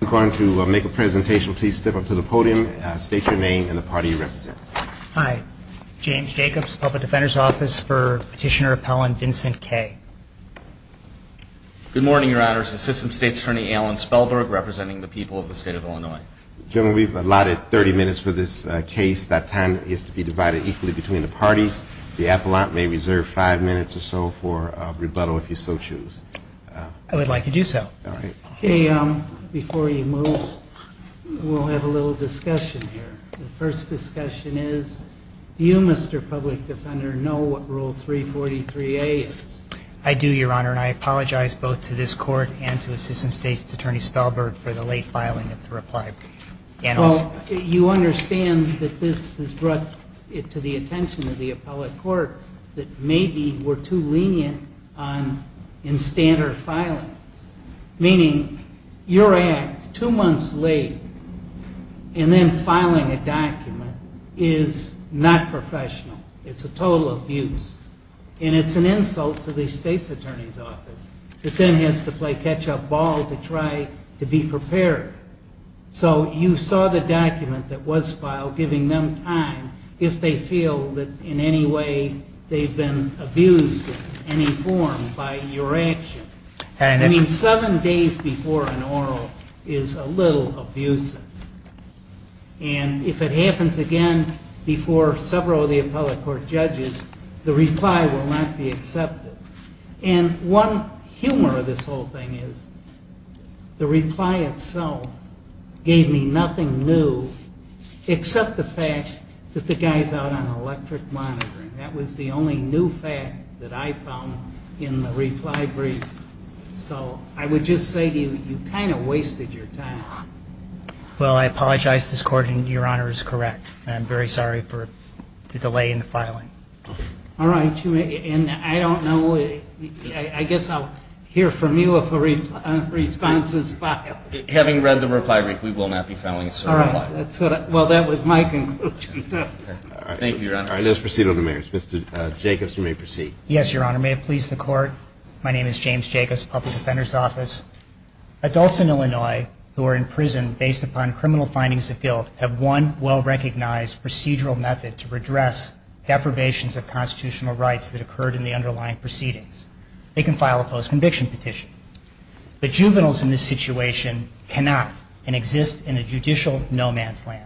I'm going to make a presentation. Please step up to the podium. State your name and the party you represent. Hi. James Jacobs, Public Defender's Office for Petitioner Appellant Vincent Kaye. Good morning, Your Honors. Assistant State's Attorney Alan Spellberg representing the people of the state of Illinois. General, we've allotted 30 minutes for this case. That time is to be divided equally between the parties. The appellant may reserve five minutes or so for rebuttal if you so choose. I would like to do so. All right. OK, before you move, we'll have a little discussion here. The first discussion is, do you, Mr. Public Defender, know what Rule 343A is? I do, Your Honor, and I apologize both to this court and to Assistant State's Attorney Spellberg for the late filing of the reply. Well, you understand that this has brought it to the attention of the appellate court that maybe we're too lenient in standard filings, meaning your act two months late and then filing a document is not professional. It's a total abuse. And it's an insult to the State's Attorney's Office. It then has to play catch-up ball to try to be prepared. So you saw the document that was filed, giving them time if they feel that in any way they've been abused in any form by your action. I mean, seven days before an oral is a little abusive. And if it happens again before several of the appellate court judges, the reply will not be accepted. And one humor of this whole thing is the reply itself gave me nothing new except the fact that the guy's out on electric monitoring. That was the only new fact that I briefed. So I would just say to you, you kind of wasted your time. Well, I apologize to this court, and Your Honor is correct. And I'm very sorry for the delay in the filing. All right, and I don't know, I guess I'll hear from you if a response is filed. Having read the reply brief, we will not be filing a certain reply. Well, that was my conclusion. Thank you, Your Honor. Let's proceed with the merits. Mr. Jacobs, you may proceed. Yes, Your Honor. May it please the court. My name is James Jacobs, Public Defender's Office. Adults in Illinois who are in prison based upon criminal findings of guilt have one well-recognized procedural method to redress deprivations of constitutional rights that occurred in the underlying proceedings. They can file a post-conviction petition. But juveniles in this situation cannot and exist in a judicial no-man's land.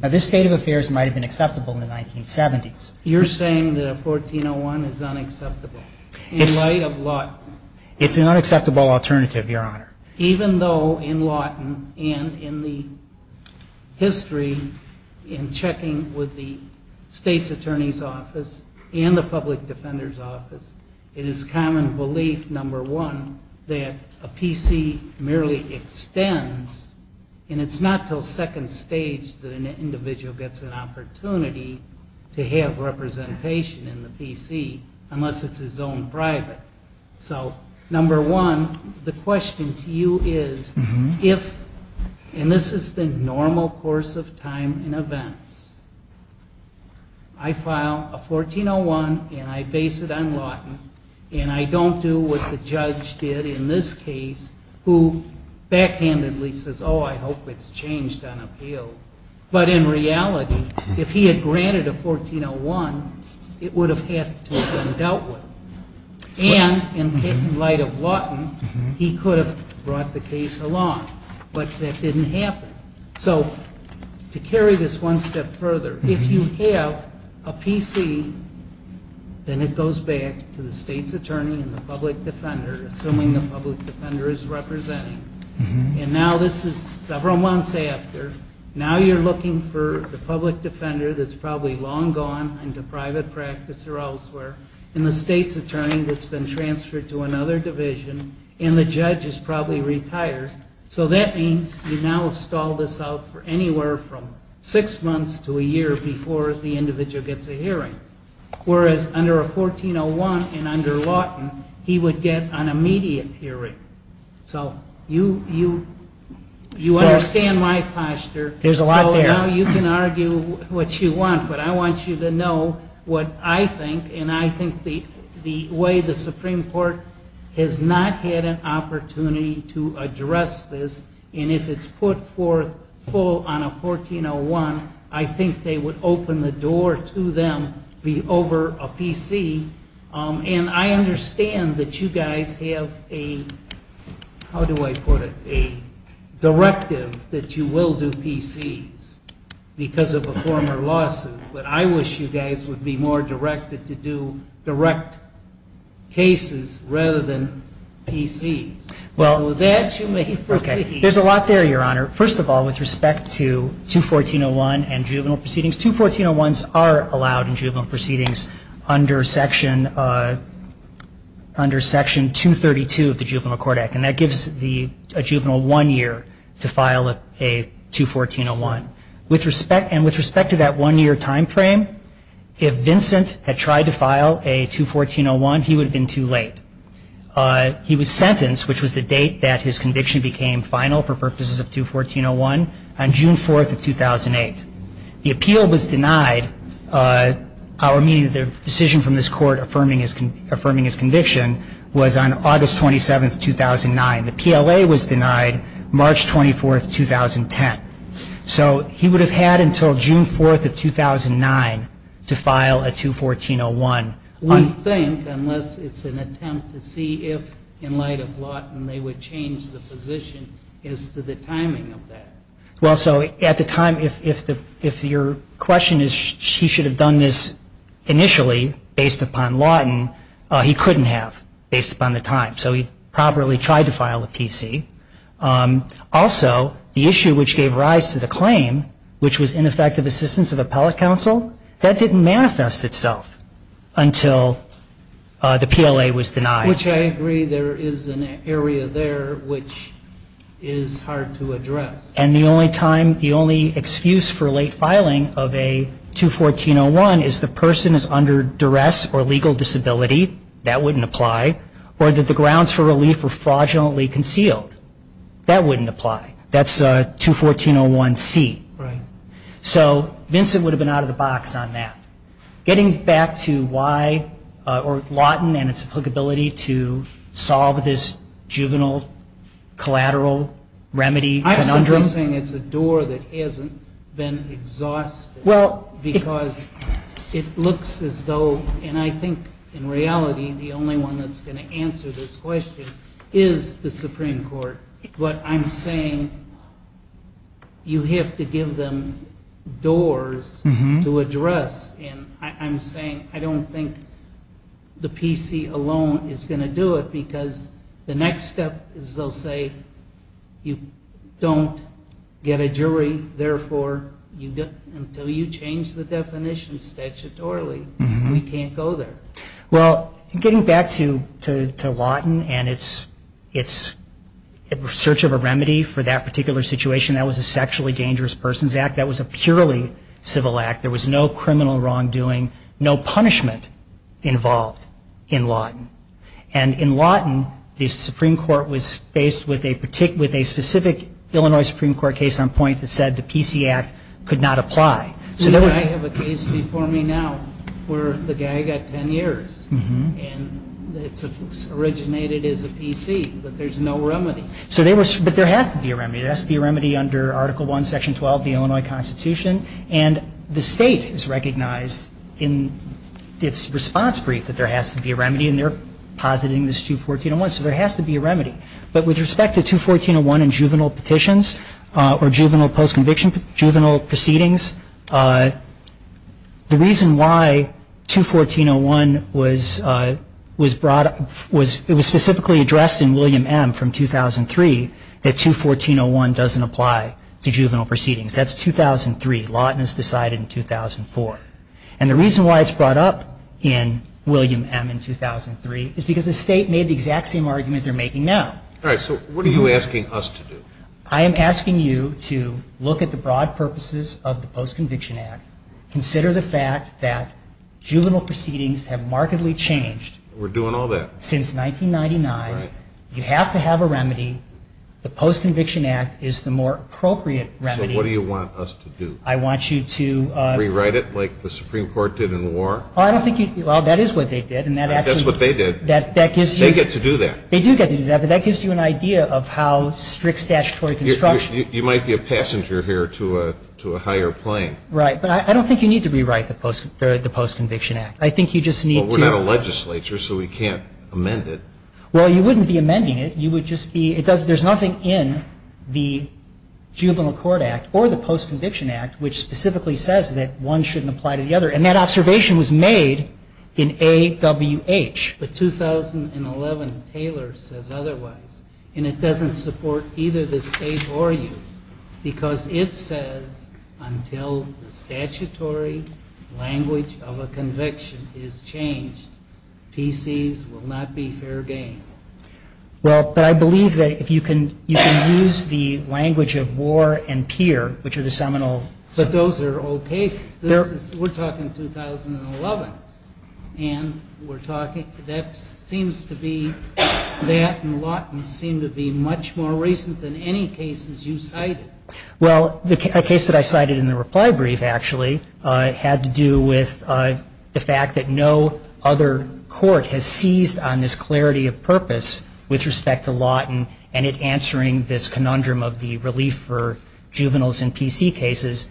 Now, this state of affairs might have been acceptable in the 1970s. You're saying that a 1401 is unacceptable? In light of Lawton. It's an unacceptable alternative, Your Honor. Even though in Lawton and in the history in checking with the state's attorney's office and the public defender's office, it is common belief, number one, that a PC merely extends. And it's not till second stage that an individual gets an opportunity to have representation in the PC, unless it's his own private. So number one, the question to you is if, and this is the normal course of time in events, I file a 1401 and I base it on Lawton, and I don't do what the judge did in this case, who backhandedly says, oh, I hope it's changed on appeal. But in reality, if he had granted a 1401, it would have had to have been dealt with. And in light of Lawton, he could have brought the case along. But that didn't happen. So to carry this one step further, if you have a PC, then it goes back to the state's attorney and the public defender, assuming the public defender is representing. And now this is several months after. Now you're looking for the public defender that's probably long gone into private practice or elsewhere. And the state's attorney that's been transferred to another division. And the judge is probably retired. So that means you now have stalled this out for anywhere from six months to a year before the individual gets a hearing. Whereas under a 1401 and under Lawton, he would get an immediate hearing. So you understand my posture. There's a lot there. Now you can argue what you want. But I want you to know what I think. And I think the way the Supreme Court has not had an opportunity to address this. And if it's put forth full on a 1401, I think they would open the door to them over a PC. And I understand that you guys have a, how do I put it, directive that you will do PCs because of a former lawsuit. But I wish you guys would be more directed to do direct cases rather than PCs. Well, that you may proceed. There's a lot there, Your Honor. First of all, with respect to 21401 and juvenile proceedings, 21401s are allowed in juvenile proceedings under Section 232 of the Juvenile Cortec. And that gives a juvenile one year to file a 21401. And with respect to that one year time frame, if Vincent had tried to file a 21401, he would have been too late. He was sentenced, which was the date that his conviction became final for purposes of 21401, on June 4 of 2008. The appeal was denied. Our meaning of the decision from this court affirming his conviction was on August 27, 2009. The PLA was denied March 24, 2010. So he would have had until June 4 of 2009 to file a 21401. We think, unless it's an attempt to see if, in light of Lawton, they would change the position as to the timing of that. Well, so at the time, if your question is he should have done this initially based upon Lawton, he couldn't have based upon the time. So he properly tried to file a PC. Also, the issue which gave rise to the claim, which was ineffective assistance of appellate counsel, that didn't manifest itself until the PLA was denied. Which I agree, there is an area there which is hard to address. And the only time, the only excuse for late filing of a 21401 is the person is under duress or legal disability. That wouldn't apply. Or that the grounds for relief were fraudulently concealed. That wouldn't apply. That's 21401C. So Vincent would have been out of the box on that. Getting back to why, or Lawton and its applicability to solve this juvenile collateral remedy conundrum. You're saying it's a door that hasn't been exhausted. Well. Because it looks as though, and I think in reality, the only one that's going to answer this question is the Supreme Court. But I'm saying you have to give them doors to address. And I'm saying I don't think the PC alone is going to do it, because the next step is they'll say you don't get a jury. Therefore, until you change the definition statutorily, we can't go there. Well, getting back to Lawton and its search of a remedy for that particular situation, that was a sexually dangerous persons act. That was a purely civil act. There was no criminal wrongdoing, no punishment involved in Lawton. And in Lawton, the Supreme Court was faced with a specific Illinois Supreme Court case on point that said the PC Act could not apply. So I have a case before me now where the guy got 10 years. And it's originated as a PC, but there's no remedy. But there has to be a remedy. There has to be a remedy under Article 1, Section 12 of the Illinois Constitution. And the state has recognized in its response brief that there has to be a remedy, and they're positing this 214.01. So there has to be a remedy. But with respect to 214.01 in juvenile petitions or juvenile post-conviction, juvenile proceedings, the reason why 214.01 was brought up was it was specifically addressed in William M. from 2003 that 214.01 doesn't apply to juvenile proceedings. That's 2003. Lawton has decided in 2004. And the reason why it's brought up in William M. in 2003 is because the state made the exact same argument they're making now. All right, so what are you asking us to do? I am asking you to look at the broad purposes of the Post-Conviction Act, consider the fact that juvenile proceedings have markedly changed. We're doing all that. Since 1999, you have to have a remedy. The Post-Conviction Act is the more appropriate remedy. So what do you want us to do? I want you to Rewrite it like the Supreme Court did in the war? I don't think you, well, that is what they did. And that actually That's what they did. That gives you They get to do that. They do get to do that. But that gives you an idea of how strict statutory construction You might be a passenger here to a higher plane. Right, but I don't think you need to rewrite the Post-Conviction Act. I think you just need to Well, we're not a legislature, so we can't amend it. Well, you wouldn't be amending it. You would just be, it does, there's nothing in the Juvenile Court Act or the Post-Conviction Act, which specifically says that one shouldn't apply to the other. And that observation was made in AWH. But 2011 Taylor says otherwise. And it doesn't support either the state or you because it says, until the statutory language of a conviction is changed, PCs will not be fair game. Well, but I believe that if you can use the language of war and peer, which are the seminal But those are all cases. We're talking 2011 and we're talking, that seems to be, that and Lawton seem to be much more recent than any cases you cited. Well, the case that I cited in the reply brief actually had to do with the fact that no other court with respect to Lawton and it answering this conundrum of the relief for juveniles in PC cases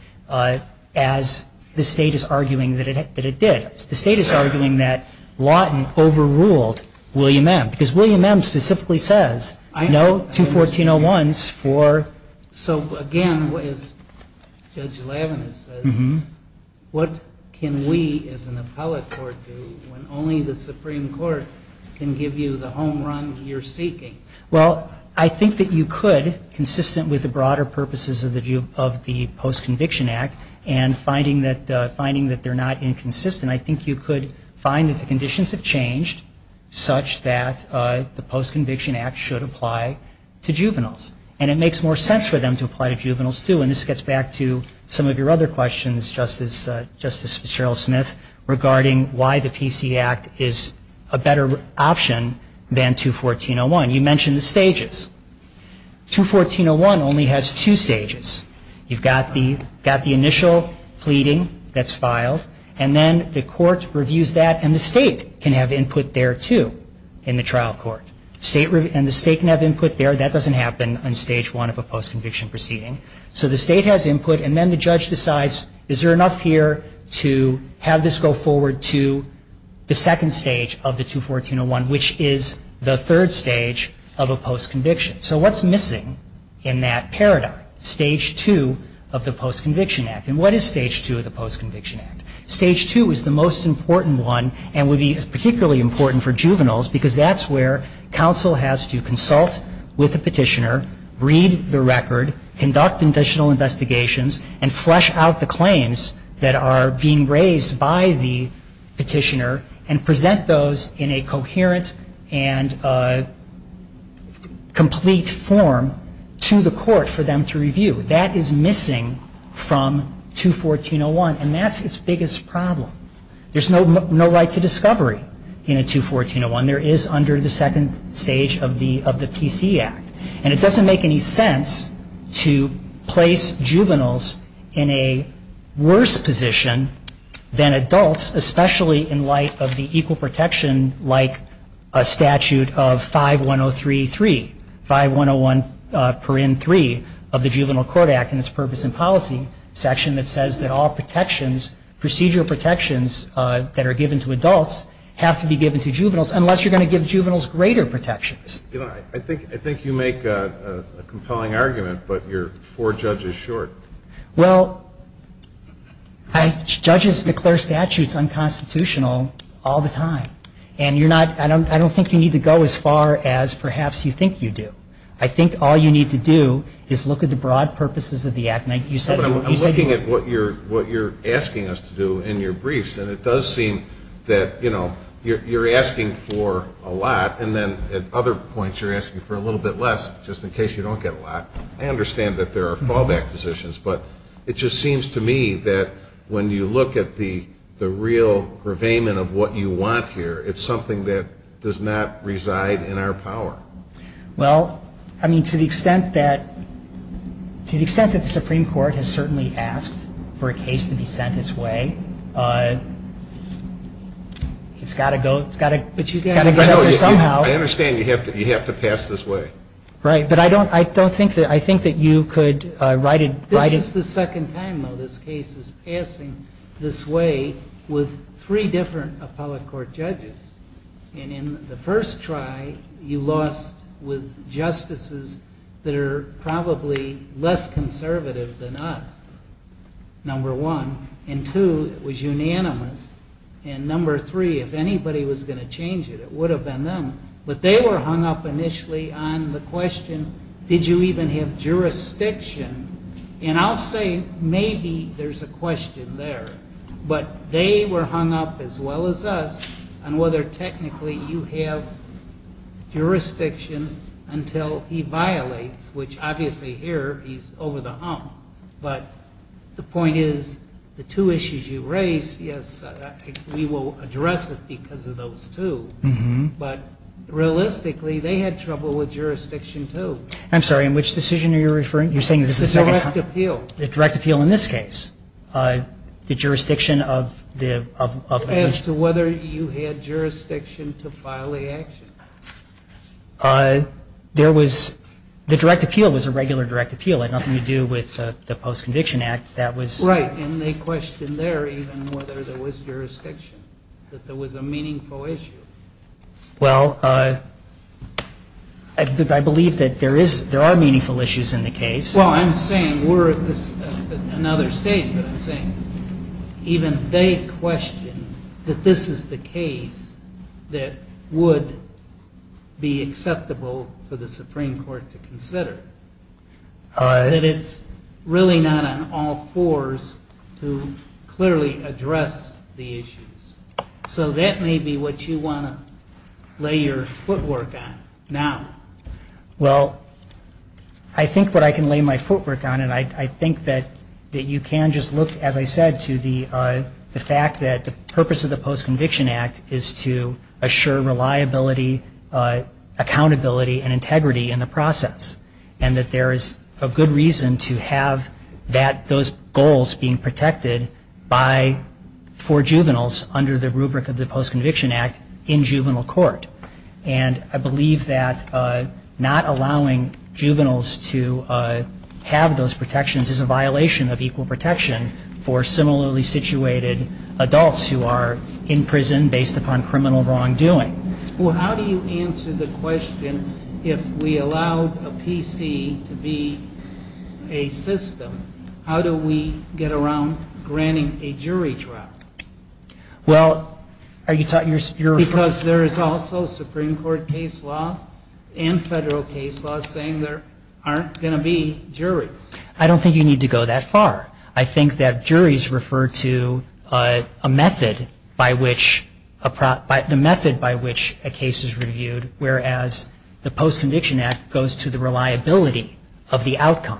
as the state is arguing that it did. The state is arguing that Lawton overruled William M. Because William M. specifically says no to 1401s for. So again, Judge Levin says, what can we as an appellate court do when only the Supreme Court can give you the home run you're seeking? Well, I think that you could, consistent with the broader purposes of the Post-Conviction Act and finding that they're not inconsistent, I think you could find that the conditions have changed such that the Post-Conviction Act should apply to juveniles. And it makes more sense for them to apply to juveniles too. And this gets back to some of your other questions, Justice Fitzgerald-Smith, regarding why the PC Act is a better option than 21401. You mentioned the stages. 21401 only has two stages. You've got the initial pleading that's filed and then the court reviews that and the state can have input there too in the trial court. State can have input there, that doesn't happen on stage one of a post-conviction proceeding. So the state has input and then the judge decides is there enough here to have this go forward to the second stage of the 21401, which is the third stage of a post-conviction. So what's missing in that paradigm? Stage two of the Post-Conviction Act. And what is stage two of the Post-Conviction Act? Stage two is the most important one and would be particularly important for juveniles because that's where counsel has to consult with the petitioner, read the record, conduct additional investigations and flesh out the claims that are being raised by the petitioner and present those in a coherent and complete form to the court for them to review. That is missing from 21401 and that's its biggest problem. There's no right to discovery in a 21401. There is under the second stage of the PC Act and it doesn't make any sense to place juveniles in a worse position than adults, especially in light of the equal protection like a statute of 5103.3, 5101.3 of the Juvenile Court Act and its purpose and policy section that says that all protections, procedural protections that are given to adults have to be given to juveniles unless you're gonna give juveniles greater protections. I think you make a compelling argument but you're four judges short. Well, judges declare statutes unconstitutional all the time and I don't think you need to go as far as perhaps you think you do. I think all you need to do is look at the broad purposes of the act. And you said- I'm looking at what you're asking us to do in your briefs and it does seem that you're asking for a lot and then at other points you're asking for a little bit less just in case you don't get a lot. I understand that there are fallback positions but it just seems to me that when you look at the real purveyment of what you want here, it's something that does not reside in our power. Well, I mean, to the extent that the Supreme Court has certainly asked for a case to be sent its way, it's gotta go, it's gotta get out there somehow. I understand you have to pass this way. Right, but I don't think that you could write it- This is the second time, though, this case is passing this way with three different appellate court judges. And in the first try, you lost with justices that are probably less conservative than us, number one. And two, it was unanimous. And number three, if anybody was gonna change it, it would have been them. But they were hung up initially on the question, did you even have jurisdiction? And I'll say maybe there's a question there. But they were hung up as well as us on whether technically you have jurisdiction until he violates, which obviously here, he's over the hump. But the point is, the two issues you raised, yes, we will address it because of those two. But realistically, they had trouble with jurisdiction, too. I'm sorry, in which decision are you referring? You're saying this is the second time? The direct appeal. The direct appeal in this case. The jurisdiction of the- As to whether you had jurisdiction to file the action. There was, the direct appeal was a regular direct appeal. It had nothing to do with the post-conviction act. That was- Right, and they questioned there even whether there was jurisdiction, that there was a meaningful issue. Well, I believe that there is, there are meaningful issues in the case. Well, I'm saying, we're at another stage, but I'm saying, even they questioned that this is the case that would be acceptable for the Supreme Court to consider. That it's really not on all fours to clearly address the issues. So that may be what you want to lay your footwork on now. Well, I think what I can lay my footwork on, and I think that you can just look, as I said, to the fact that the purpose of the post-conviction act is to assure reliability, accountability, and integrity in the process. And that there is a good reason to have those goals being protected for juveniles under the rubric of the post-conviction act in juvenile court. And I believe that not allowing juveniles to have those protections is a violation of equal protection for similarly situated adults who are in prison based upon criminal wrongdoing. Well, how do you answer the question if we allow a PC to be a system, how do we get around granting a jury trial? Well, are you talking, you're referring to... Because there is also Supreme Court case law and federal case law saying there aren't gonna be juries. I don't think you need to go that far. I think that juries refer to a method by which a case is reviewed, whereas the post-conviction act goes to the reliability of the outcome.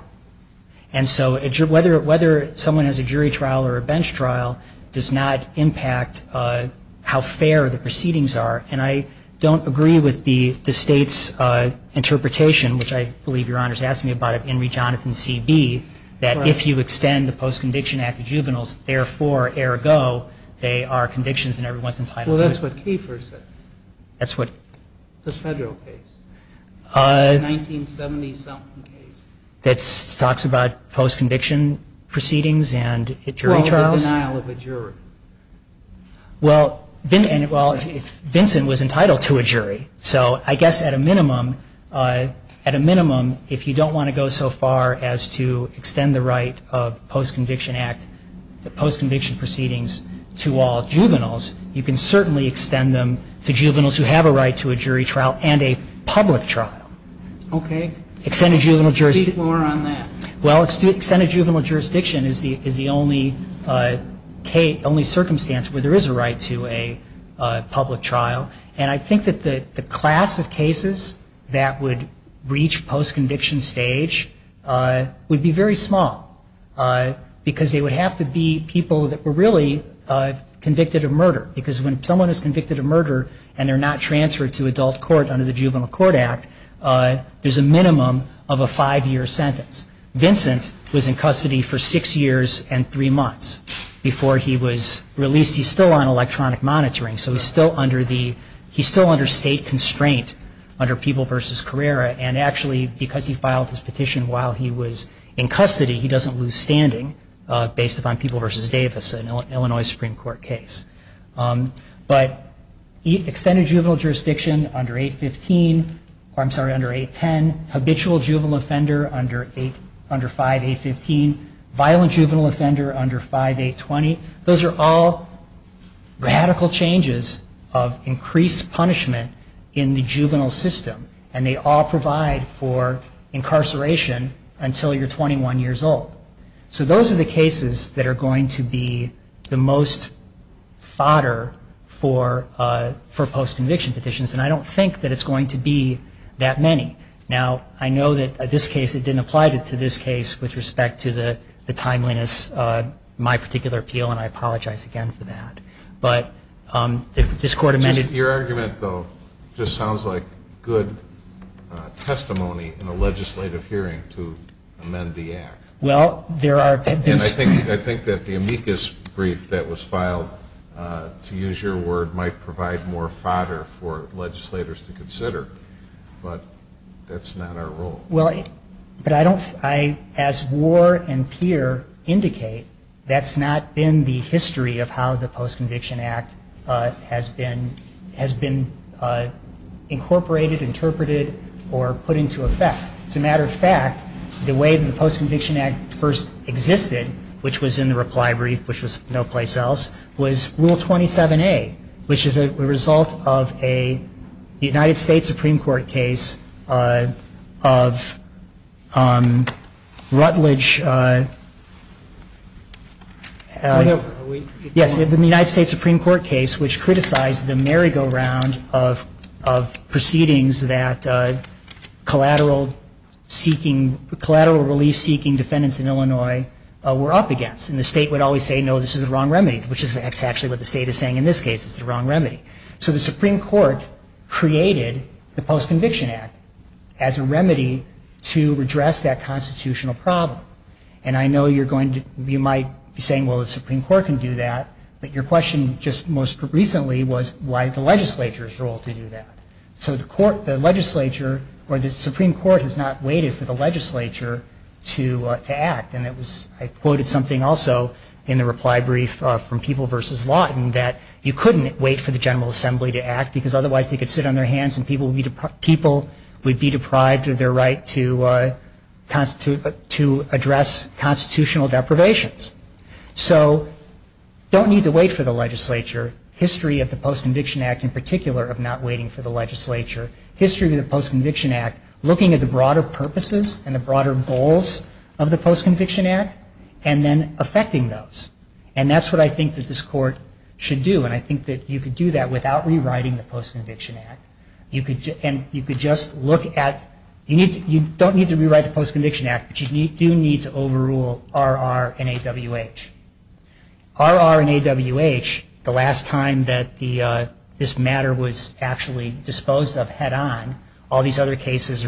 And so whether someone has a jury trial or a bench trial does not impact how fair the proceedings are. And I don't agree with the state's interpretation, which I believe Your Honor's asking me about, of Henry Jonathan CB, that if you extend the post-conviction act to juveniles, therefore, ergo, they are convictions and everyone's entitled to it. Well, that's what Kiefer says. That's what... The federal case, the 1970 something case. That talks about post-conviction proceedings and jury trials? Well, the denial of a jury. Well, Vincent was entitled to a jury. So I guess at a minimum, if you don't wanna go so far as to extend the right of post-conviction act, the post-conviction proceedings to all juveniles, you can certainly extend them to juveniles who have a right to a jury trial and a public trial. Okay. Extended juvenile jurisdiction... Speak more on that. Well, extended juvenile jurisdiction is the only circumstance where there is a right to a public trial. And I think that the class of cases that would reach post-conviction stage would be very small because they would have to be people that were really convicted of murder. Because when someone is convicted of murder and they're not transferred to adult court under the Juvenile Court Act, there's a minimum of a five-year sentence. Vincent was in custody for six years and three months before he was released. He's still on electronic monitoring. So he's still under state constraint under People v. Carrera. And actually, because he filed his petition while he was in custody, he doesn't lose standing based upon People v. Davis, an Illinois Supreme Court case. But extended juvenile jurisdiction under 815, or I'm sorry, under 810. Habitual juvenile offender under 5815. Violent juvenile offender under 5820. Those are all radical changes of increased punishment in the juvenile system. And they all provide for incarceration until you're 21 years old. So those are the cases that are going to be the most fodder for post-conviction petitions. And I don't think that it's going to be that many. Now, I know that this case, it didn't apply to this case with respect to the timeliness of my particular appeal, and I apologize again for that. But this Court amended- Your argument, though, just sounds like good testimony in a legislative hearing to amend the Act. Well, there are- And I think that the amicus brief that was filed, to use your word, might provide more fodder for legislators to consider. But that's not our role. Well, but I don't, as Moore and Peer indicate, that's not been the history of how the Post-Conviction Act has been incorporated, interpreted, or put into effect. As a matter of fact, the way the Post-Conviction Act first existed, which was in the reply brief, which was no place else, was Rule 27A, which is a result of a United States Supreme Court case of Rutledge- Yes, in the United States Supreme Court case, which criticized the merry-go-round of proceedings that collateral-seeking, collateral relief-seeking defendants in Illinois were up against. And the state would always say, no, this is the wrong remedy, which is actually what the state is saying in this case, it's the wrong remedy. So the Supreme Court created the Post-Conviction Act as a remedy to redress that constitutional problem. And I know you're going to, you might be saying, well, the Supreme Court can do that, but your question just most recently was why the legislature's role to do that. So the court, the legislature, or the Supreme Court has not waited for the legislature to act. And it was, I quoted something also in the reply brief from People v. Lawton that you couldn't wait for the General Assembly to act because otherwise they could sit on their hands and people would be deprived of their right to address constitutional deprivations. So don't need to wait for the legislature. History of the Post-Conviction Act in particular of not waiting for the legislature. History of the Post-Conviction Act, looking at the broader purposes and the broader goals of the Post-Conviction Act and then affecting those. And that's what I think that this court should do. And I think that you could do that without rewriting the Post-Conviction Act. You could just look at, you don't need to rewrite the Post-Conviction Act, but you do need to overrule RR and AWH. RR and AWH, the last time that this matter was actually disposed of head-on, all these other cases,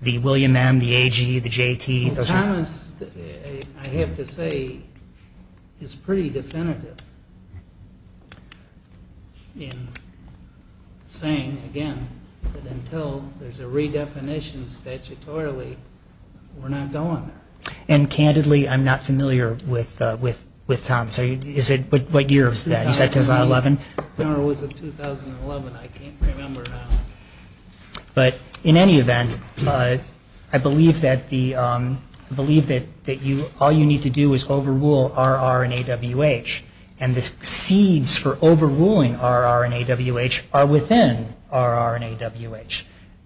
the William M., the AG, the JT. Thomas, I have to say, is pretty definitive in saying again that until there's a redefinition statutorily, we're not going there. And candidly, I'm not familiar with Thomas. What year is that? Is that 2011? When was it, 2011? I can't remember now. But in any event, I believe that all you need to do is overrule RR and AWH. And the seeds for overruling RR and AWH are within RR and AWH.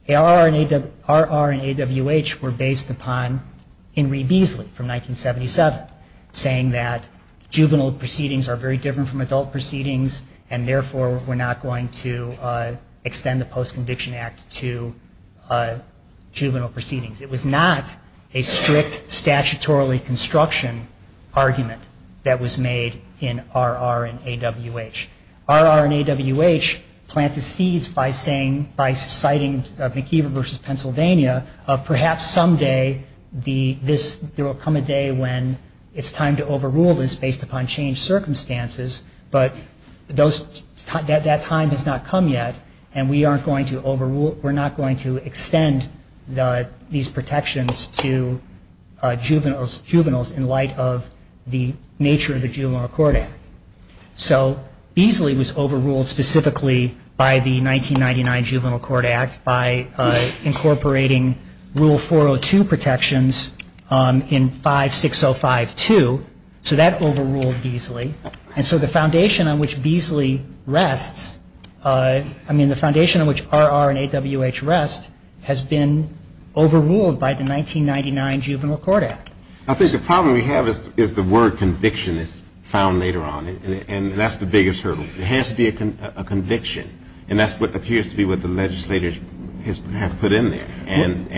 RR and AWH were based upon Henry Beasley from 1977, saying that juvenile proceedings are very different from adult proceedings, and therefore, we're not going to extend the Post-Conviction Act to juvenile proceedings. It was not a strict statutorily construction argument that was made in RR and AWH. RR and AWH plant the seeds by saying, by citing McIver versus Pennsylvania, of perhaps someday there will come a day when it's time to overrule this based upon changed circumstances, but that time has not come yet, and we're not going to extend these protections to juveniles in light of the nature of the Juvenile Court Act. So Beasley was overruled specifically by the 1999 Juvenile Court Act by incorporating Rule 402 protections in 56052. So that overruled Beasley, and so the foundation on which Beasley rests, I mean, the foundation on which RR and AWH rest has been overruled by the 1999 Juvenile Court Act. I think the problem we have is the word conviction is found later on, and that's the biggest hurdle. It has to be a conviction, and that's what appears to be what the legislators have put in there, and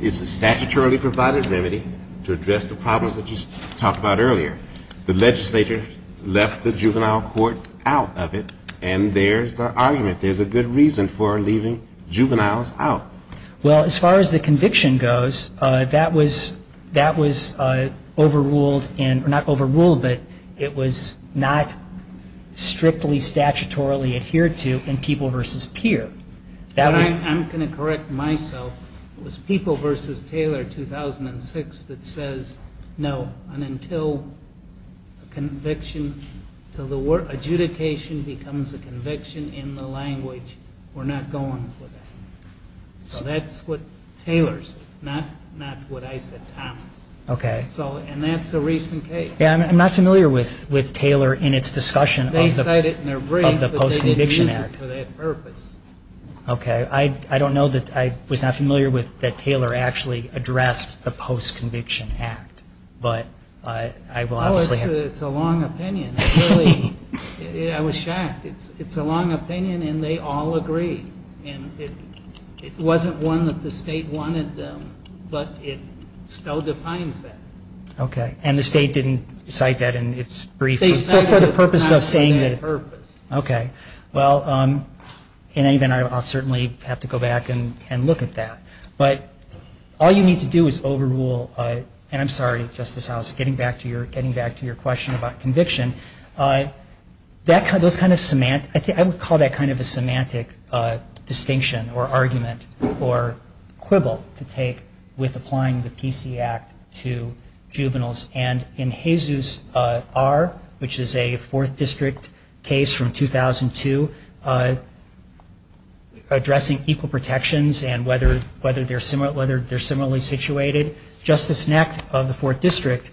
it's a statutorily provided remedy to address the problems that you talked about earlier. The legislator left the Juvenile Court out of it, and there's an argument. There's a good reason for leaving juveniles out. Well, as far as the conviction goes, that was overruled, or not overruled, but it was not strictly statutorily adhered to in People v. Peer. That was- I'm going to correct myself. It was People v. Taylor, 2006, that says, no, until conviction, until the adjudication becomes a conviction in the language, we're not going for that. So that's what Taylor said, not what I said, Thomas. Okay. So, and that's a recent case. Yeah, I'm not familiar with Taylor in its discussion of the Post-Conviction Act. They said it in their brief, but they didn't use it for that purpose. Okay. I don't know that, I was not familiar with that Taylor actually addressed the Post-Conviction Act, but I will obviously have- No, it's a long opinion. It really, I was shocked. It's a long opinion, and they all agree. And it wasn't one that the state wanted them, but it still defines that. Okay. And the state didn't cite that in its brief? They cited it- For the purpose of saying that- Not for that purpose. Okay. Well, in any event, I'll certainly have to go back and look at that. But all you need to do is overrule, and I'm sorry, Justice House, getting back to your question about conviction. That kind of, those kind of semantics, I would call that kind of a semantic distinction or argument or quibble to take with applying the PC Act to juveniles. And in Jesus R., which is a fourth district case from 2002, addressing equal protections and whether they're similarly situated, Justice Knacht of the fourth district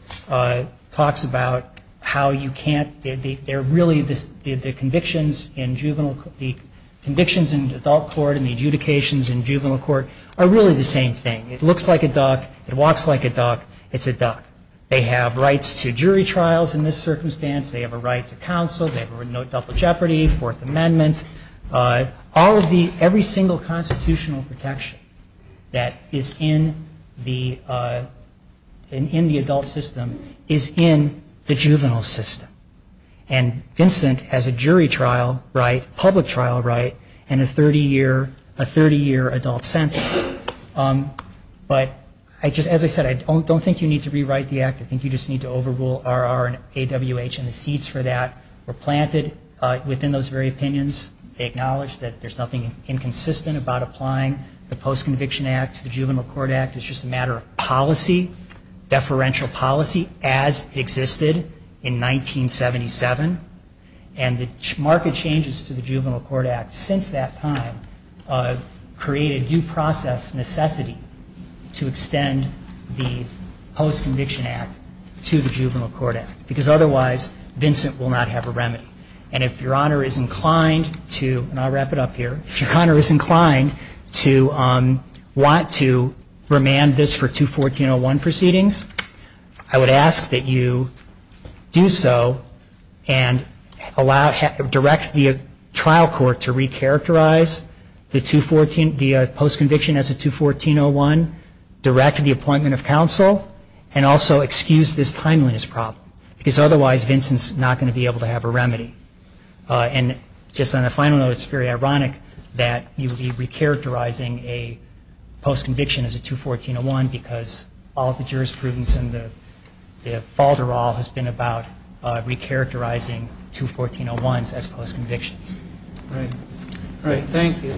talks about how you can't, they're really, the convictions in juvenile, the convictions in adult court and the adjudications in juvenile court are really the same thing. It looks like a duck, it walks like a duck, it's a duck. They have rights to jury trials in this circumstance. They have a right to counsel. They have a right to double jeopardy, Fourth Amendment. All of the, every single constitutional protection that is in the, in the adult system is in the juvenile system. And Vincent has a jury trial right, public trial right, and a 30 year, a 30 year adult sentence. But I just, as I said, I don't think you need to rewrite the act. I think you just need to overrule R.R. and A.W.H. and the seats for that were planted within those very opinions. They acknowledge that there's nothing inconsistent about applying the Post-Conviction Act to the Juvenile Court Act. It's just a matter of policy, deferential policy as it existed in 1977. And the market changes to the Juvenile Court Act since that time create a due process necessity to extend the Post-Conviction Act to the Juvenile Court Act. Because otherwise, Vincent will not have a remedy. And if Your Honor is inclined to, and I'll wrap it up here, if Your Honor is inclined to want to remand this for 214.01 proceedings, I would ask that you do so and allow, direct the trial court to recharacterize the 214, the Post-Conviction as a 214.01, direct the appointment of counsel, and also excuse this timeliness problem. Because otherwise, Vincent's not going to be able to have a remedy. And just on a final note, it's very ironic that you would be recharacterizing a post-conviction as a 214.01 because all the jurisprudence and the fault of all has been about recharacterizing 214.01s as post-convictions. All right. All right, thank you.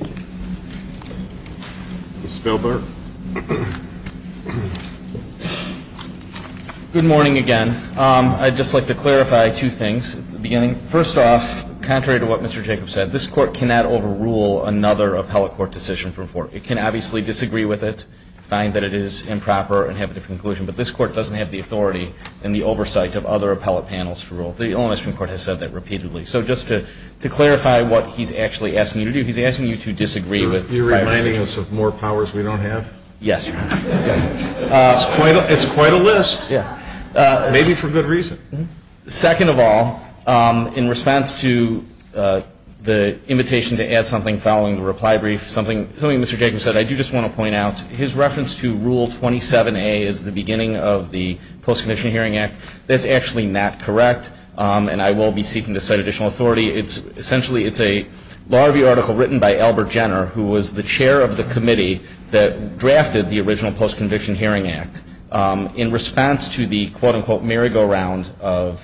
Ms. Spielberg. Good morning again. I'd just like to clarify two things at the beginning. First off, contrary to what Mr. Jacobs said, this court cannot overrule another appellate court decision from four. It can obviously disagree with it, find that it is improper, and have a different conclusion. But this court doesn't have the authority and the oversight of other appellate panels to rule. The Illinois Supreme Court has said that repeatedly. So just to clarify what he's actually asking you to do, he's asking you to disagree with five or six. You're reminding us of more powers we don't have? Yes, Your Honor. Yes. It's quite a list. Yes. Maybe for good reason. Second of all, in response to the invitation to add something following the reply brief, something Mr. Jacobs said I do just want to point out, his reference to Rule 27A as the beginning of the Post-Conviction Hearing Act, that's actually not correct. And I will be seeking to cite additional authority. It's essentially, it's a law review article written by Albert Jenner, who was the chair of the committee that drafted the original Post-Conviction Hearing Act in response to the quote-unquote merry-go-round of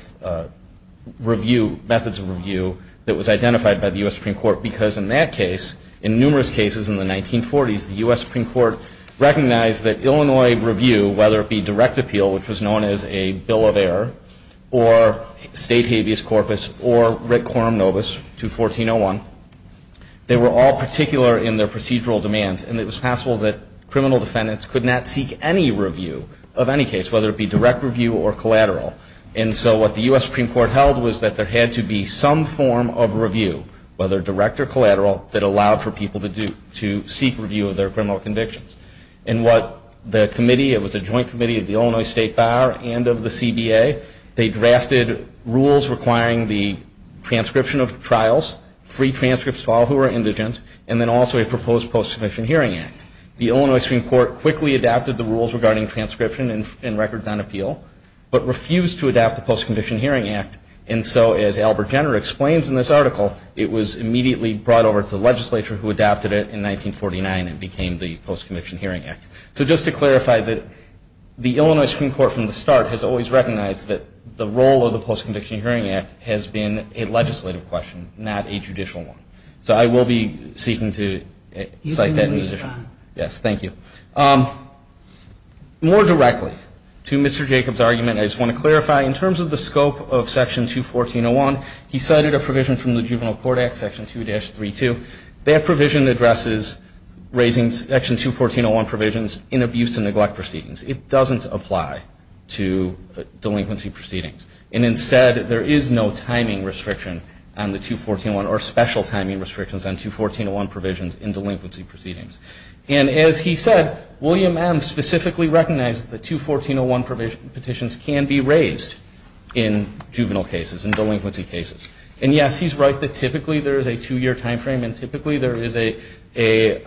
methods of review that was identified by the U.S. Supreme Court. Because in that case, in numerous cases in the 1940s, the U.S. Supreme Court recognized that Illinois review, whether it be direct appeal, which was known as a bill of error, or state habeas corpus, or writ quorum nobis 214.01, they were all particular in their procedural demands. And it was possible that criminal defendants could not seek any review of any case, whether it be direct review or collateral. And so what the U.S. Supreme Court held was that there had to be some form of review, whether direct or collateral, that allowed for people to seek review of their criminal convictions. And what the committee, it was a joint committee of the Illinois State Bar and of the CBA. They drafted rules requiring the transcription of trials, free transcripts to all who were indigent, and then also a proposed Post-Conviction Hearing Act. The Illinois Supreme Court quickly adapted the rules regarding transcription and records on appeal, but refused to adopt the Post-Conviction Hearing Act. And so as Albert Jenner explains in this article, it was immediately brought over to the legislature who adopted it in 1949 and became the Post-Conviction Hearing Act. So just to clarify that the Illinois Supreme Court from the start has always recognized that the role of the Post-Conviction Hearing Act has been a legislative question, not a judicial one. So I will be seeking to cite that musician. Yes, thank you. More directly to Mr. Jacobs' argument, I just want to clarify, in terms of the scope of Section 214.01, he cited a provision from the Juvenile Court Act, Section 2-32. That provision addresses raising Section 214.01 provisions in abuse and neglect proceedings. It doesn't apply to delinquency proceedings. And instead, there is no timing restriction on the 214.01 or special timing restrictions on 214.01 provisions in delinquency proceedings. And as he said, William M. specifically recognizes that 214.01 petitions can be raised in juvenile cases, in delinquency cases. And yes, he's right that typically there is a two-year timeframe and typically there is a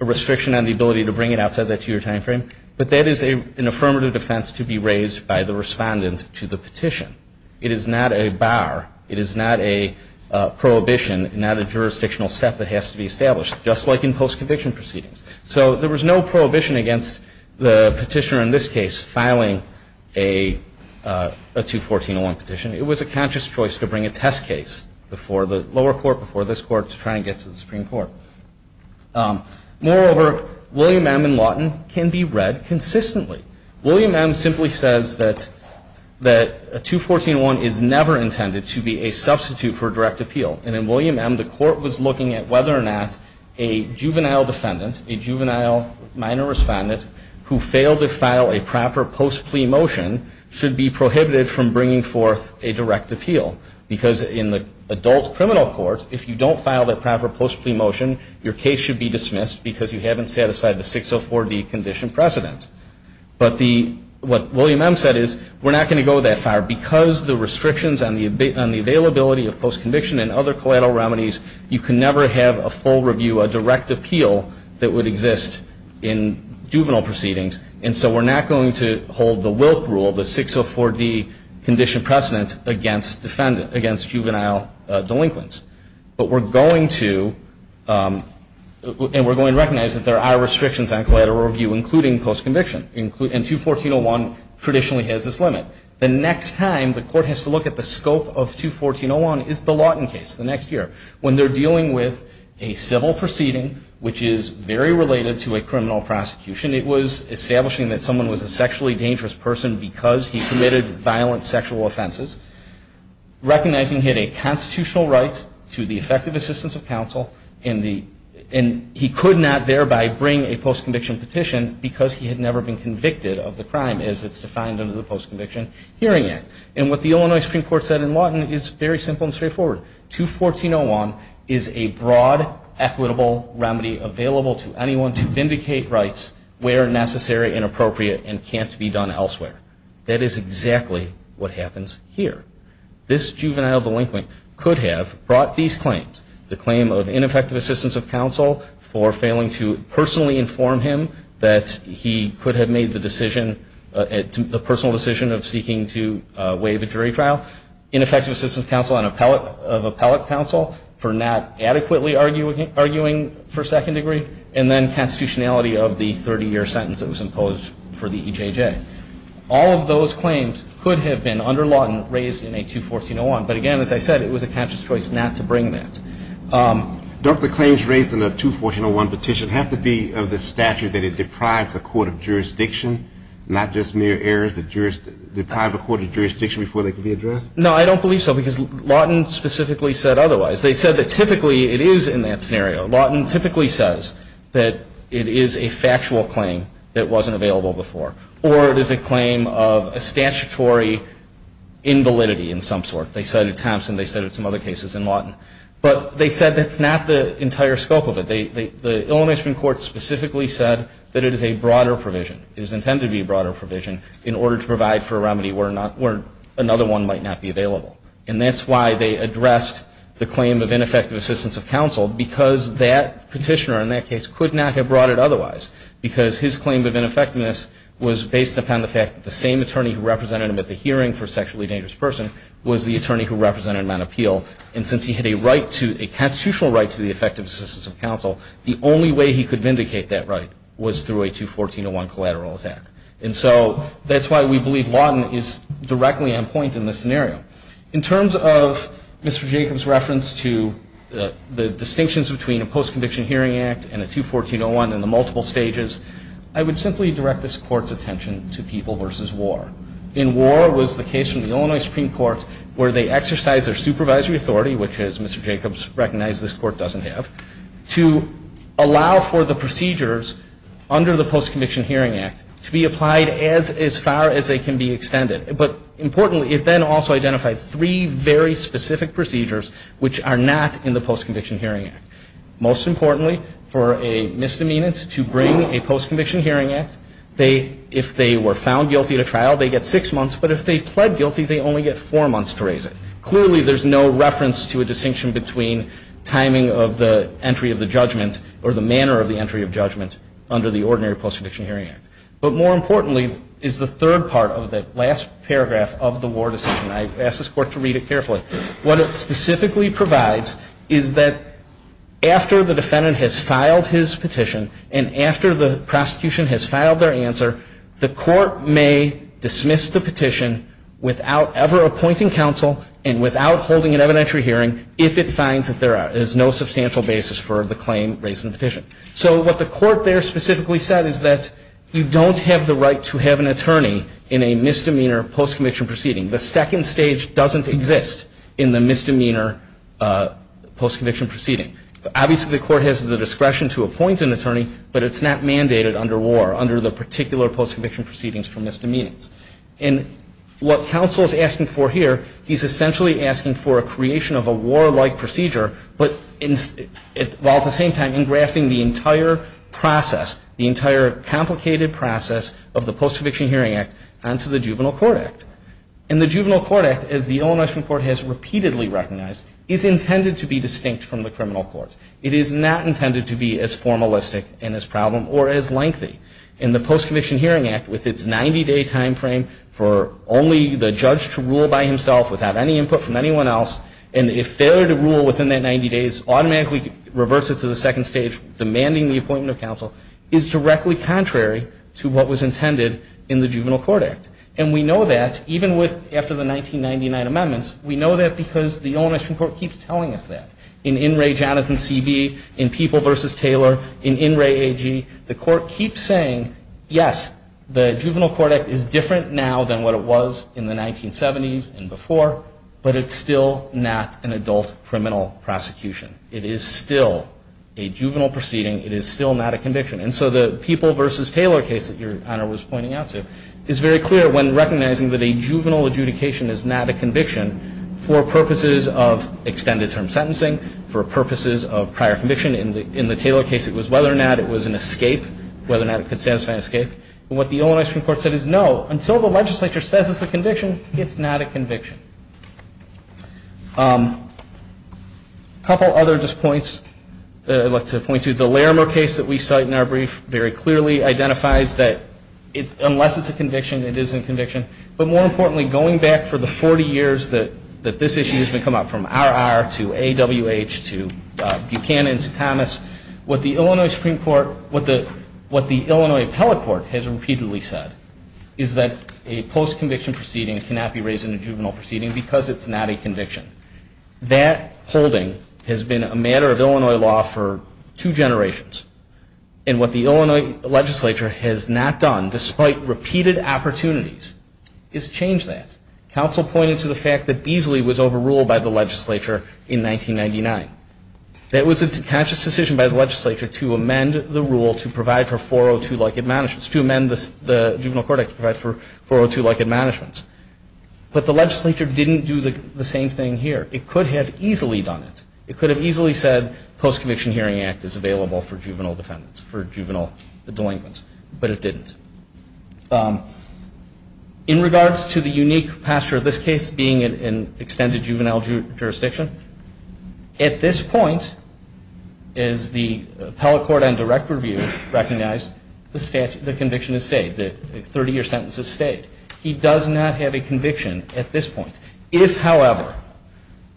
restriction on the ability to bring it outside that two-year timeframe. But that is an affirmative defense to be raised by the respondent to the petition. It is not a bar. It is not a prohibition, not a jurisdictional step that has to be established, just like in post-conviction proceedings. So there was no prohibition against the petitioner in this case filing a 214.01 petition. It was a conscious choice to bring a test case before the lower court, before this court, to try and get to the Supreme Court. Moreover, William M. and Lawton can be read consistently. William M. simply says that a 214.01 is never intended to be a substitute for direct appeal. And in William M., the court was looking at whether or not a juvenile defendant, a juvenile minor respondent, who failed to file a proper post-plea motion should be prohibited from bringing forth a direct appeal. Because in the adult criminal court, if you don't file that proper post-plea motion, your case should be dismissed because you haven't satisfied the 604D condition precedent. But what William M. said is, we're not gonna go that far because the restrictions on the availability of post-conviction and other collateral remedies, you can never have a full review, a direct appeal that would exist in juvenile proceedings. And so we're not going to hold the Wilk rule, the 604D condition precedent against juvenile delinquents. But we're going to, and we're going to recognize that there are restrictions on collateral review, including post-conviction. And 214.01 traditionally has this limit. The next time the court has to look at the scope of 214.01 is the Lawton case, the next year. When they're dealing with a civil proceeding, which is very related to a criminal prosecution, it was establishing that someone was a sexually dangerous person because he committed violent sexual offenses, recognizing he had a constitutional right to the effective assistance of counsel, and he could not thereby bring a post-conviction petition because he had never been convicted of the crime as it's defined under the Post-Conviction Hearing Act. And what the Illinois Supreme Court said in Lawton is very simple and straightforward. 214.01 is a broad equitable remedy available to anyone to vindicate rights where necessary and appropriate and can't be done elsewhere. That is exactly what happens here. This juvenile delinquent could have brought these claims, the claim of ineffective assistance of counsel for failing to personally inform him that he could have made the personal decision of seeking to waive a jury trial, ineffective assistance of counsel of appellate counsel for not adequately arguing for second degree, and then constitutionality of the 30-year sentence that was imposed for the EJJ. All of those claims could have been under Lawton raised in a 214.01, but again, as I said, it was a catcher's choice not to bring that. Don't the claims raised in a 214.01 petition have to be of the statute that it deprives a court of jurisdiction, not just mere errors, but deprives a court of jurisdiction before they can be addressed? No, I don't believe so, because Lawton specifically said otherwise. They said that typically it is in that scenario. Lawton typically says that it is a factual claim that wasn't available before. Or it is a claim of a statutory invalidity in some sort. They said it at Thompson. They said it at some other cases in Lawton. But they said that's not the entire scope of it. The Illinois Supreme Court specifically said that it is a broader provision. It is intended to be a broader provision in order to provide for a remedy where another one might not be available. And that's why they addressed the claim of ineffective assistance of counsel, because that petitioner in that case could not have brought it otherwise. Because his claim of ineffectiveness was based upon the fact that the same attorney who represented him at the hearing for a sexually dangerous person was the attorney who represented him on appeal. And since he had a constitutional right to the effective assistance of counsel, the only way he could vindicate that right was through a 214.01 collateral attack. And so that's why we believe Lawton is directly on point in this scenario. In terms of Mr. Jacobs' reference to the distinctions between a post-conviction hearing act and a 214.01 and the multiple stages, I would simply direct this court's attention to people versus war. In war was the case in the Illinois Supreme Court where they exercised their supervisory authority, which as Mr. Jacobs recognized, this court doesn't have, to allow for the procedures under the Post-Conviction Hearing Act to be applied as far as they can be extended. But importantly, it then also identified three very specific procedures which are not in the Post-Conviction Hearing Act. Most importantly, for a misdemeanant to bring a post-conviction hearing act, if they were found guilty at a trial, they get six months. But if they pled guilty, they only get four months to raise it. Clearly, there's no reference to a distinction between timing of the entry of the judgment or the manner of the entry of judgment under the ordinary Post-Conviction Hearing Act. But more importantly is the third part of that last paragraph of the war decision. I ask this court to read it carefully. What it specifically provides is that after the defendant has filed his petition and after the prosecution has filed their answer, the court may dismiss the petition without ever appointing counsel and without holding an evidentiary hearing if it finds that there is no substantial basis for the claim raised in the petition. So what the court there specifically said is that you don't have the right to have an attorney in a misdemeanor post-conviction proceeding. The second stage doesn't exist in the misdemeanor post-conviction proceeding. Obviously, the court has the discretion to appoint an attorney, but it's not mandated under war under the particular post-conviction proceedings for misdemeanors. And what counsel is asking for here, he's essentially asking for a creation of a war-like procedure, while at the same time engrafting the entire process, the entire complicated process of the Post-Conviction Hearing Act onto the Juvenile Court Act. And the Juvenile Court Act, as the Illinois Supreme Court has repeatedly recognized, is intended to be distinct from the criminal courts. It is not intended to be as formalistic in its problem or as lengthy. In the Post-Conviction Hearing Act, with its 90-day time frame for only the judge to rule by himself without any input from anyone else, and a failure to rule within that 90 days automatically reverts it to the second stage, demanding the appointment of counsel, is directly contrary to what was intended in the Juvenile Court Act. And we know that, even after the 1999 amendments, we know that because the Illinois Supreme Court keeps telling us that. In In Re, Jonathan C.B., in People versus Taylor, in In Re, A.G., the court keeps saying, yes, the Juvenile Court Act is different now than what it was in the 1970s and before, but it's still not an adult criminal prosecution. It is still a juvenile proceeding. It is still not a conviction. And so the People versus Taylor case that Your Honor was pointing out to is very clear when recognizing that a juvenile adjudication is not a conviction for purposes of extended term sentencing, for purposes of prior conviction. In the Taylor case, it was whether or not it was an escape, whether or not it could satisfy an escape. And what the Illinois Supreme Court said is, no, until the legislature says it's a conviction, it's not a conviction. A couple other just points that I'd like to point to. The Larimer case that we cite in our brief very clearly identifies that, unless it's a conviction, it isn't a conviction. But more importantly, going back for the 40 years that this issue has come up, from R.R. to A.W.H. to Buchanan to Thomas, what the Illinois Supreme Court, what the Illinois appellate court has repeatedly said is that a post-conviction proceeding cannot be raised in a juvenile proceeding because it's not a conviction. That holding has been a matter of Illinois law for two generations. And what the Illinois legislature has not done, despite repeated opportunities, is change that. Counsel pointed to the fact that Beasley was overruled by the legislature in 1999. That was a conscious decision by the legislature to amend the rule to provide for 402-like admonishments, to amend the Juvenile Court Act to provide for 402-like admonishments. But the legislature didn't do the same thing here. It could have easily done it. It could have easily said Post-Conviction Hearing Act is available for juvenile defendants, for juvenile delinquents. But it didn't. In regards to the unique posture of this case being in extended juvenile jurisdiction, at this point, as the appellate court on direct review recognized, the conviction is stayed. The 30-year sentence is stayed. He does not have a conviction at this point. If, however,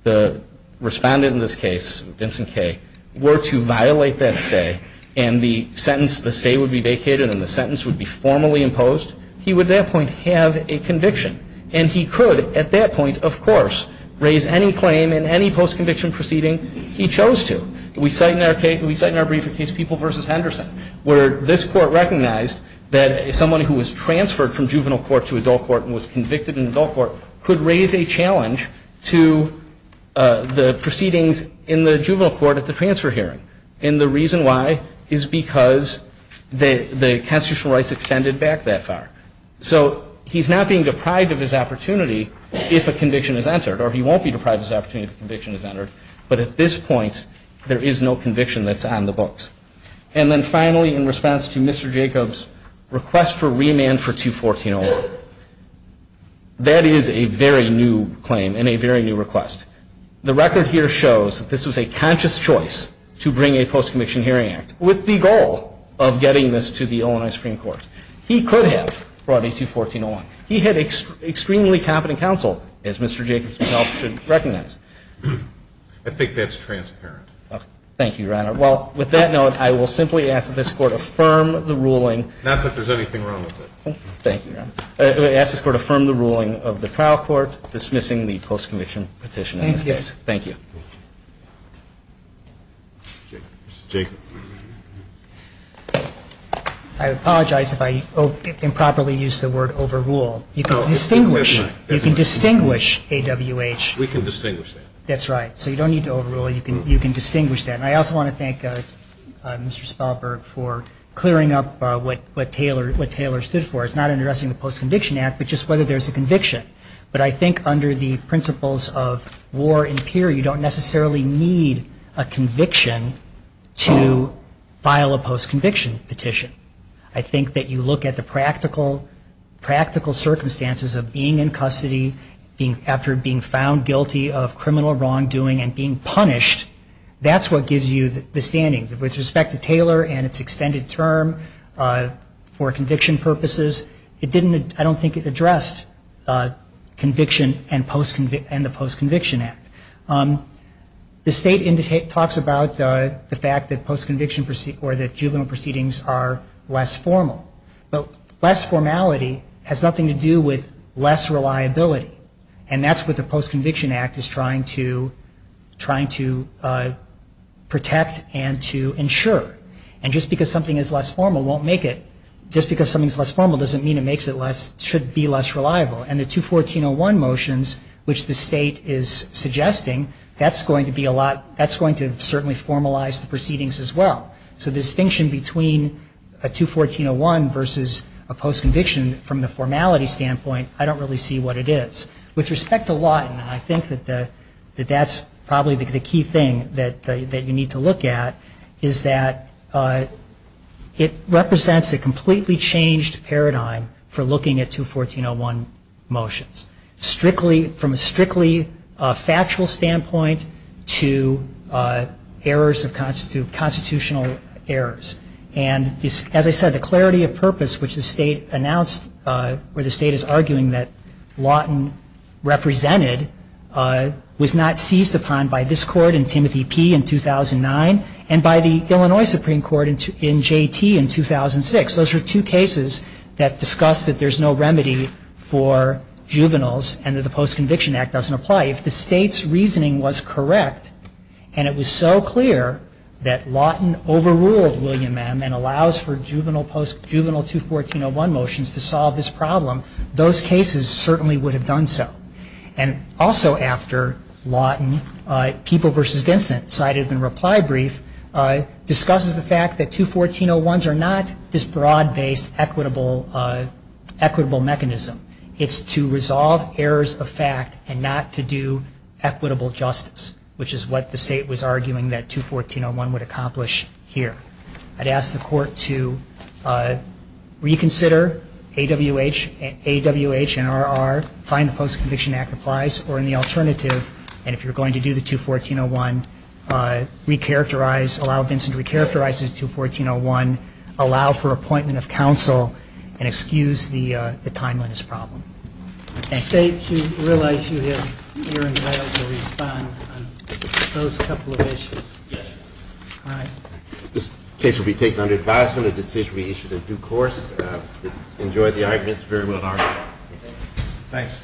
the respondent in this case, Vincent Kaye, were to violate that stay, and the sentence would be vacated and the sentence would be formally imposed, he would at that point have a conviction. And he could, at that point, of course, raise any claim in any post-conviction proceeding he chose to. We cite in our briefcase People v. Henderson, where this court recognized that someone who was transferred from juvenile court to adult court and was convicted in adult court could raise a challenge to the proceedings in the juvenile court at the transfer hearing. And the reason why is because the constitutional rights extended back that far. So he's not being deprived of his opportunity if a conviction is entered. Or he won't be deprived of his opportunity if a conviction is entered. But at this point, there is no conviction that's on the books. And then finally, in response to Mr. Jacobs' request for remand for 214-01, that is a very new claim and a very new request. The record here shows that this was a conscious choice to bring a post-conviction hearing act with the goal of getting this to the Illinois Supreme Court. He could have brought it to 214-01. He had extremely competent counsel, as Mr. Jacobs himself should recognize. I think that's transparent. Thank you, Your Honor. Well, with that note, I will simply ask that this Court affirm the ruling. Not that there's anything wrong with it. Thank you, Your Honor. I ask this Court affirm the ruling of the trial court dismissing the post-conviction petition in this case. Thank you. Mr. Jacobs. Thank you. I apologize if I improperly used the word overrule. You can distinguish. You can distinguish AWH. We can distinguish that. That's right. So you don't need to overrule. You can distinguish that. And I also want to thank Mr. Spalberg for clearing up what Taylor stood for. It's not addressing the post-conviction act, but just whether there's a conviction. But I think under the principles of war and peer, you don't necessarily need a conviction to file a post-conviction petition. I think that you look at the practical circumstances of being in custody after being found guilty of criminal wrongdoing and being punished, that's what gives you the standing. With respect to Taylor and its extended term for conviction purposes, I don't think addressed conviction and the post-conviction act. The state talks about the fact that post-conviction or that juvenile proceedings are less formal. But less formality has nothing to do with less reliability. And that's what the post-conviction act is trying to protect and to ensure. And just because something is less formal won't make it. Just because something's less formal doesn't mean it should be less reliable. And the 214-01 motions, which the state is suggesting, that's going to be a lot. That's going to certainly formalize the proceedings as well. So the distinction between a 214-01 versus a post-conviction from the formality standpoint, I don't really see what it is. With respect to Lawton, I think that that's probably the key thing that you need to look at is that it represents a completely changed paradigm for looking at 214-01 motions. From a strictly factual standpoint to errors of constitutional errors. And as I said, the clarity of purpose, which the state announced, where the state is arguing that Lawton represented, was not seized upon by this court in Timothy P. in 2009 and by the Illinois Supreme Court in JT in 2006. Those are two cases that discuss that there's no remedy for juveniles and that the Post-Conviction Act doesn't apply. If the state's reasoning was correct and it was so clear that Lawton overruled William M. and allows for juvenile 214-01 motions to solve this problem, those cases certainly would have done so. And also after Lawton, People v. Vincent cited in a reply brief discusses the fact that 214-01s are not this broad-based equitable mechanism. It's to resolve errors of fact and not to do equitable justice, which is what the state was arguing that 214-01 would accomplish here. I'd ask the court to reconsider AWH and RR, find the Post-Conviction Act applies, or in the alternative, and if you're going to do the 214-01, recharacterize, allow Vincent to recharacterize the 214-01, allow for appointment of counsel, and excuse the timeliness problem. Thank you. The state, do you realize you have the hearing available to respond on those couple of issues? Yes. All right. This case will be taken under advisement. A decision will be issued in due course. Enjoy the arguments. Very well argued. Thanks.